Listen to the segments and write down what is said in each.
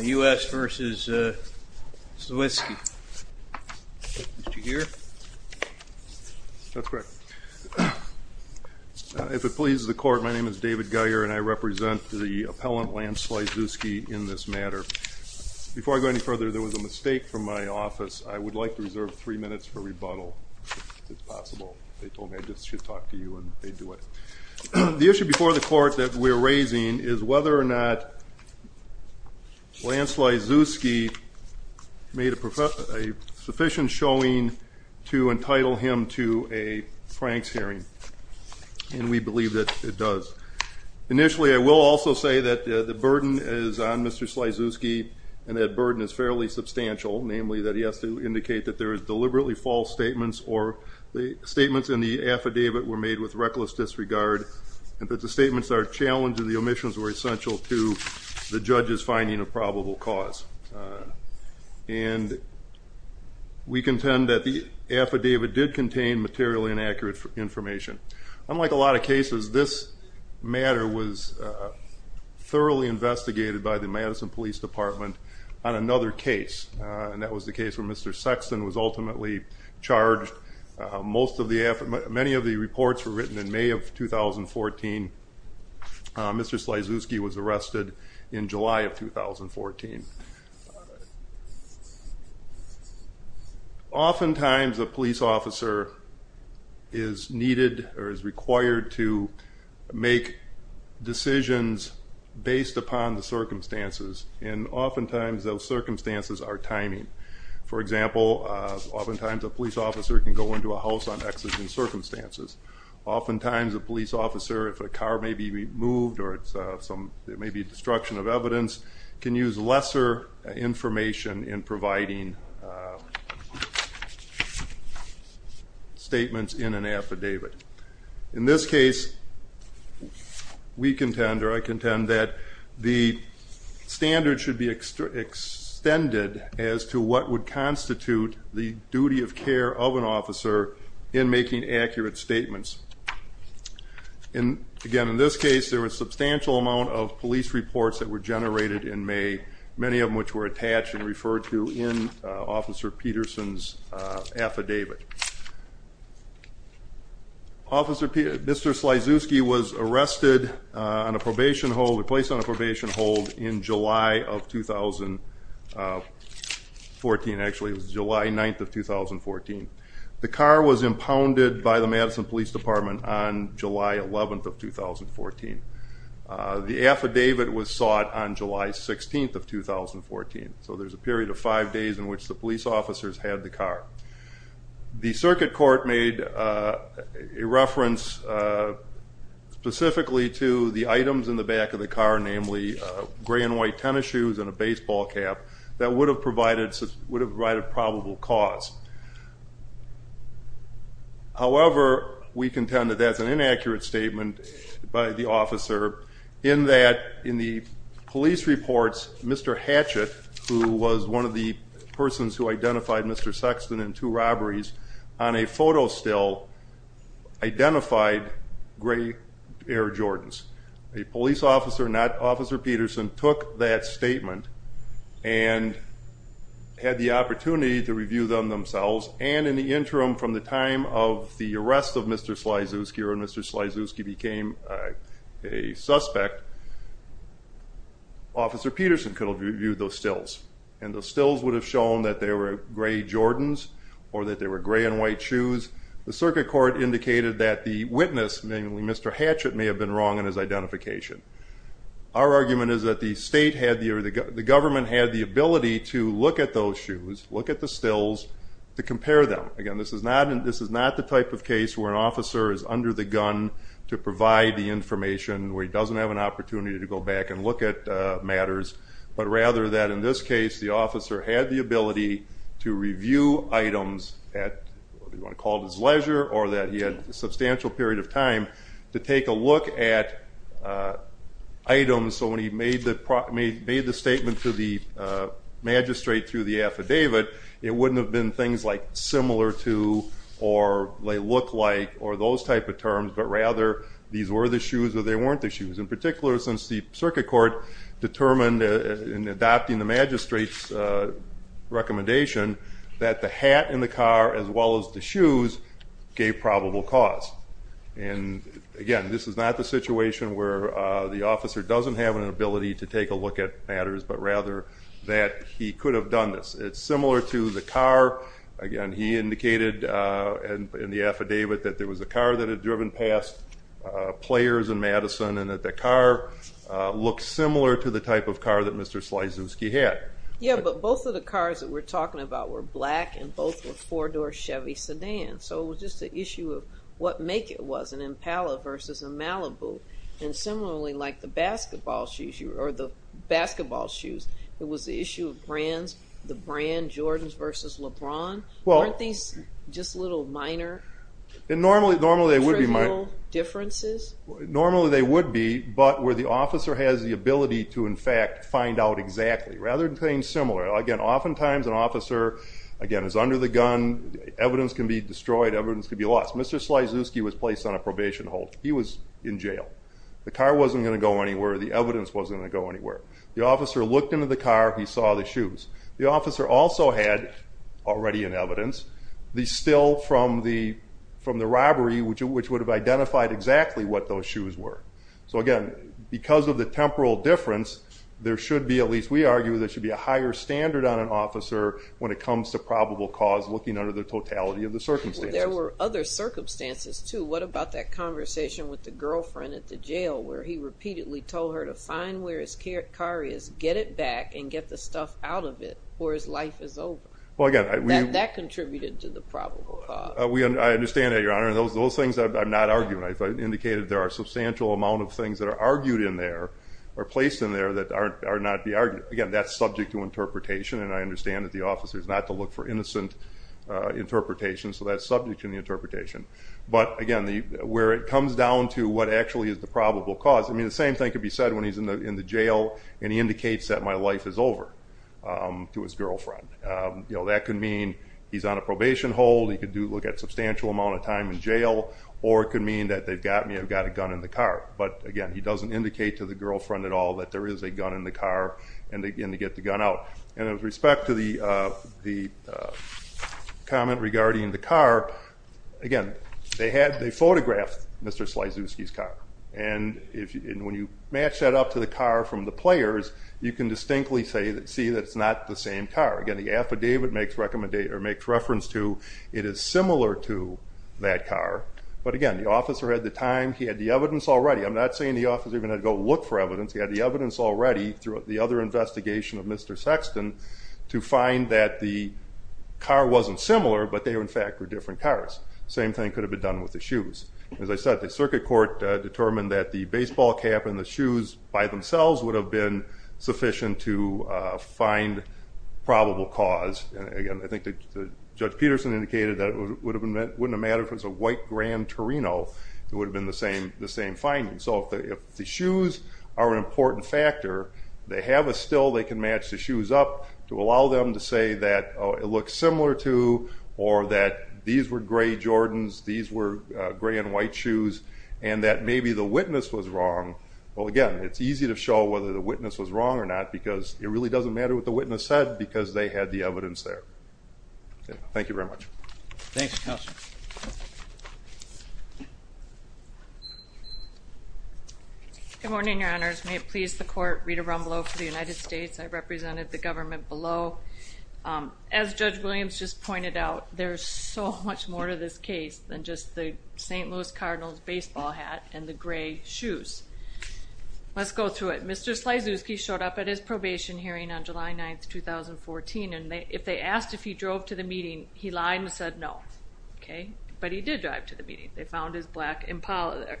U.S. v. Slizewski. Did you hear? That's correct. If it pleases the court, my name is David Geyer and I represent the appellant, Lance Slizewski, in this matter. Before I go any further, there was a mistake from my office. I would like to reserve three minutes for rebuttal, if it's possible. They told me I just should talk to you and they'd do it. The issue before the court that we're raising is whether or not Lance Slizewski made a sufficient showing to entitle him to a Franks hearing. And we believe that it does. Initially, I will also say that the burden is on Mr. Slizewski and that burden is fairly substantial, namely that he has to indicate that there are deliberately false statements or the statements in the affidavit were made with reckless disregard and that the statements are challenging, the omissions were essential to the judge's finding of probable cause. And we contend that the affidavit did contain materially inaccurate information. Unlike a lot of cases, this matter was thoroughly investigated by the Madison Police Department on another case. And that was the case where Mr. Sexton was ultimately charged. Many of the reports were written in May of 2014. Mr. Slizewski was arrested in July of 2014. Oftentimes, a police officer is needed or is required to make decisions based upon the circumstances. And oftentimes, those circumstances are timing. For example, oftentimes a police officer can go into a house on exigent circumstances. Oftentimes, a police officer, if a car may be removed, or there may be destruction of evidence, can use lesser information in providing statements in an affidavit. In this case, we contend, or I contend that the standard should be extended as to what would constitute the duty of care of an officer in making accurate statements. Again, in this case, there was a substantial amount of police reports that were generated in May, many of which were attached and referred to in Officer Peterson's affidavit. Mr. Slizewski was arrested, placed on a probation hold in July of 2014. Actually, it was July 9th of 2014. The car was impounded by the Madison Police Department on July 11th of 2014. The affidavit was sought on July 16th of 2014. So there's a period of five days in which the police officers had the car. The circuit court made a reference specifically to the items in the back of the car, namely gray and white tennis shoes and a baseball cap, that would have provided probable cause. However, we contend that that's an inaccurate statement by the officer, in that in the police reports, Mr. Hatchet, who was one of the persons who identified Mr. Sexton in two robberies, on a photo still, identified gray Air Jordans. A police officer, not Officer Peterson, took that statement and had the opportunity to review them themselves, and in the interim, from the time of the arrest of Mr. Slizewski or when Mr. Slizewski became a suspect, Officer Peterson could have reviewed those stills, and the stills would have shown that they were gray Jordans or that they were gray and white shoes. The circuit court indicated that the witness, namely Mr. Hatchet, may have been wrong in his identification. Our argument is that the government had the ability to look at those shoes, look at the stills, to compare them. Again, this is not the type of case where an officer is under the gun to provide the information, where he doesn't have an opportunity to go back and look at matters, but rather that, in this case, the officer had the ability to review items at what you want to call his leisure or that he had a substantial period of time to take a look at items. So when he made the statement to the magistrate through the affidavit, it wouldn't have been things like similar to or they look like or those type of terms, but rather these were the shoes or they weren't the shoes. In particular, since the circuit court determined, in adopting the magistrate's recommendation, that the hat in the car as well as the shoes gave probable cause. Again, this is not the situation where the officer doesn't have an ability to take a look at matters, but rather that he could have done this. It's similar to the car. Again, he indicated in the affidavit that there was a car that had driven past players in Madison and that the car looked similar to the type of car that Mr. Slizewski had. Yeah, but both of the cars that we're talking about were black and both were four-door Chevy sedans. So it was just an issue of what make it was, an Impala versus a Malibu. And similarly, like the basketball shoes, it was the issue of brands, Jordans versus LeBron. Weren't these just little minor trivial differences? Normally they would be, but where the officer has the ability to, in fact, find out exactly, rather than things similar. Again, oftentimes an officer is under the gun, evidence can be destroyed, evidence can be lost. Mr. Slizewski was placed on a probation hold. He was in jail. The car wasn't going to go anywhere. The evidence wasn't going to go anywhere. The officer looked into the car. He saw the shoes. The officer also had, already in evidence, the still from the robbery, which would have identified exactly what those shoes were. So again, because of the temporal difference, there should be, at least we argue, there should be a higher standard on an officer when it comes to probable cause looking under the totality of the circumstances. There were other circumstances, too. What about that conversation with the girlfriend at the jail where he repeatedly told her to find where his car is, get it back, and get the stuff out of it before his life is over? That contributed to the probable cause. I understand that, Your Honor. Those things I'm not arguing. I've indicated there are a substantial amount of things that are argued in there or placed in there that are not to be argued. Again, that's subject to interpretation, and I understand that the officer is not to look for innocent interpretation, so that's subject to the interpretation. But again, where it comes down to what actually is the probable cause, I mean the same thing could be said when he's in the jail and he indicates that my life is over to his girlfriend. That could mean he's on a probation hold, he could look at a substantial amount of time in jail, or it could mean that they've got me, I've got a gun in the car. But again, he doesn't indicate to the girlfriend at all that there is a gun in the car and they get the gun out. And with respect to the comment regarding the car, again, they photographed Mr. Slaizewski's car. And when you match that up to the car from the players, you can distinctly see that it's not the same car. Again, the affidavit makes reference to it is similar to that car. But again, the officer had the time, he had the evidence already. I'm not saying the officer even had to go look for evidence. He had the evidence already throughout the other investigation of Mr. Sexton to find that the car wasn't similar, but they in fact were different cars. Same thing could have been done with the shoes. As I said, the circuit court determined that the baseball cap and the shoes weren't sufficient to find probable cause. Again, I think Judge Peterson indicated that it wouldn't have mattered if it was a white Grand Torino. It would have been the same finding. So if the shoes are an important factor, they have a still, they can match the shoes up to allow them to say that it looks similar to or that these were gray Jordans, these were gray and white shoes, and that maybe the witness was wrong. Well, again, it's easy to show whether the witness was wrong or not because it really doesn't matter what the witness said because they had the evidence there. Thank you very much. Thanks, Counselor. Good morning, Your Honors. May it please the court, Rita Rumbleau for the United States. I represented the government below. As Judge Williams just pointed out, there's so much more to this case than just the St. Louis Cardinals baseball hat and the gray shoes. Let's go through it. Mr. Slazewski showed up at his probation hearing on July 9th, 2014, and if they asked if he drove to the meeting, he lied and said no. But he did drive to the meeting. They found his black Impala there.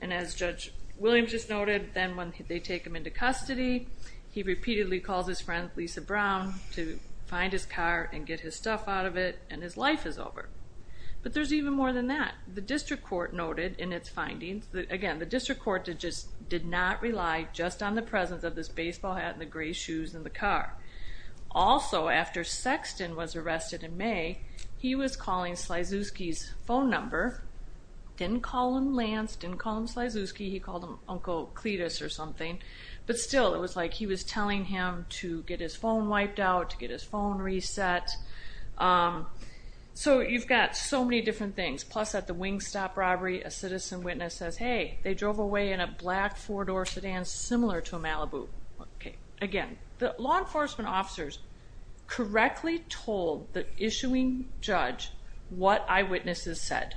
And as Judge Williams just noted, then when they take him into custody, he repeatedly calls his friend Lisa Brown to find his car and get his stuff out of it, and his life is over. But there's even more than that. The district court noted in its findings that, again, the district court just did not rely just on the presence of this baseball hat and the gray shoes and the car. Also, after Sexton was arrested in May, he was calling Slazewski's phone number. Didn't call him Lance, didn't call him Slazewski. He called him Uncle Cletus or something. But still, it was like he was telling him to get his phone wiped out, to get his phone reset. So you've got so many different things. Plus at the Wingstop robbery, a citizen witness says, hey, they drove away in a black four-door sedan similar to a Malibu. Again, the law enforcement officers correctly told the issuing judge what eyewitnesses said.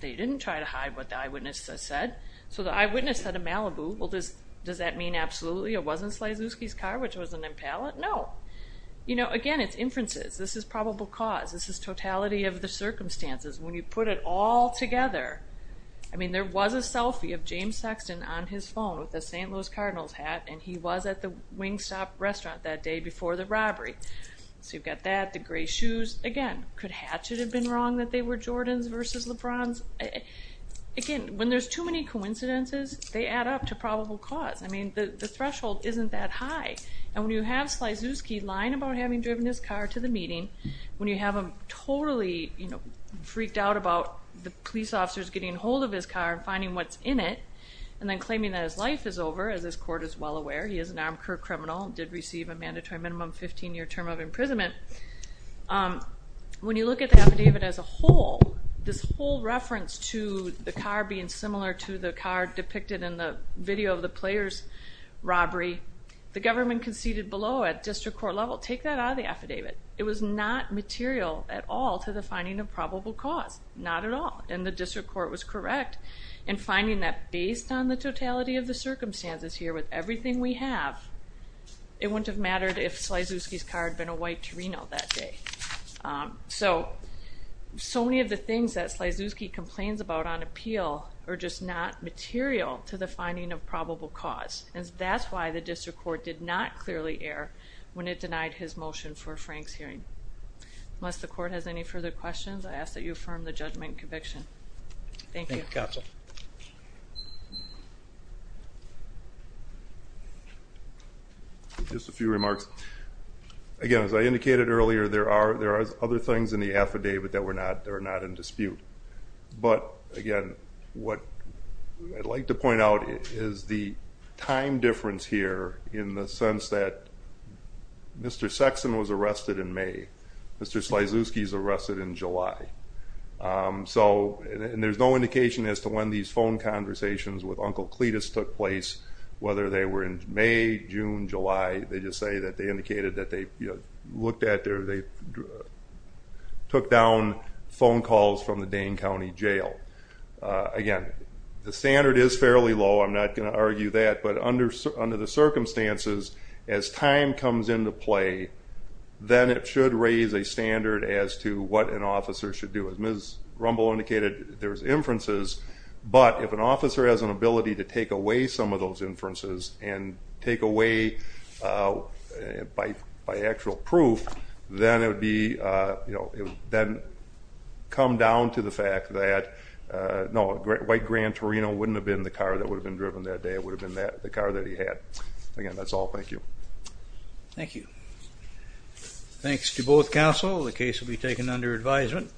They didn't try to hide what the eyewitnesses said. So the eyewitness said a Malibu. Well, does that mean absolutely it wasn't Slazewski's car, which was an Impala? No. Again, it's inferences. This is probable cause. This is totality of the circumstances. When you put it all together, I mean, there was a selfie of James Sexton on his phone with a St. Louis Cardinals hat, and he was at the Wingstop restaurant that day before the robbery. So you've got that, the gray shoes. Again, could Hatchet have been wrong that they were Jordan's versus LeBron's? Again, when there's too many coincidences, they add up to probable cause. I mean, the threshold isn't that high. And when you have Slazewski lying about having driven his car to the meeting, when you have him totally freaked out about the police officers getting hold of his car and finding what's in it, and then claiming that his life is over, as this court is well aware. He is an armed criminal and did receive a mandatory minimum 15-year term of imprisonment. When you look at the affidavit as a whole, this whole reference to the car being similar to the car depicted in the video of the players' robbery, the government conceded below at district court level, take that out of the affidavit. It was not material at all to the finding of probable cause. Not at all. And the district court was correct in finding that based on the totality of the circumstances here with everything we have, it wouldn't have mattered if Slazewski's car had been a white Torino that day. So many of the things that Slazewski complains about on appeal are just not material to the finding of probable cause. And that's why the district court did not clearly err when it denied his motion for Frank's hearing. Unless the court has any further questions, I ask that you affirm the judgment and conviction. Thank you. Thank you, counsel. Just a few remarks. Again, as I indicated earlier, there are other things in the affidavit that are not in dispute. But, again, what I'd like to point out is the time difference here in the sense that Mr. Sexton was arrested in May. Mr. Slazewski's arrested in July. And there's no indication as to when these phone conversations with Uncle Cletus took place, whether they were in May, June, July. They just say that they indicated that they looked at their or they took down phone calls from the Dane County Jail. Again, the standard is fairly low. I'm not going to argue that. But under the circumstances, as time comes into play, then it should raise a standard as to what an officer should do. As Ms. Rumble indicated, there's inferences. But if an officer has an ability to take away some of those inferences and take away by actual proof, then it would be, you know, then come down to the fact that, no, White Grand Torino wouldn't have been the car that would have been driven that day. It would have been the car that he had. Again, that's all. Thank you. Thank you. Thanks to both counsel. The case will be taken under advisement.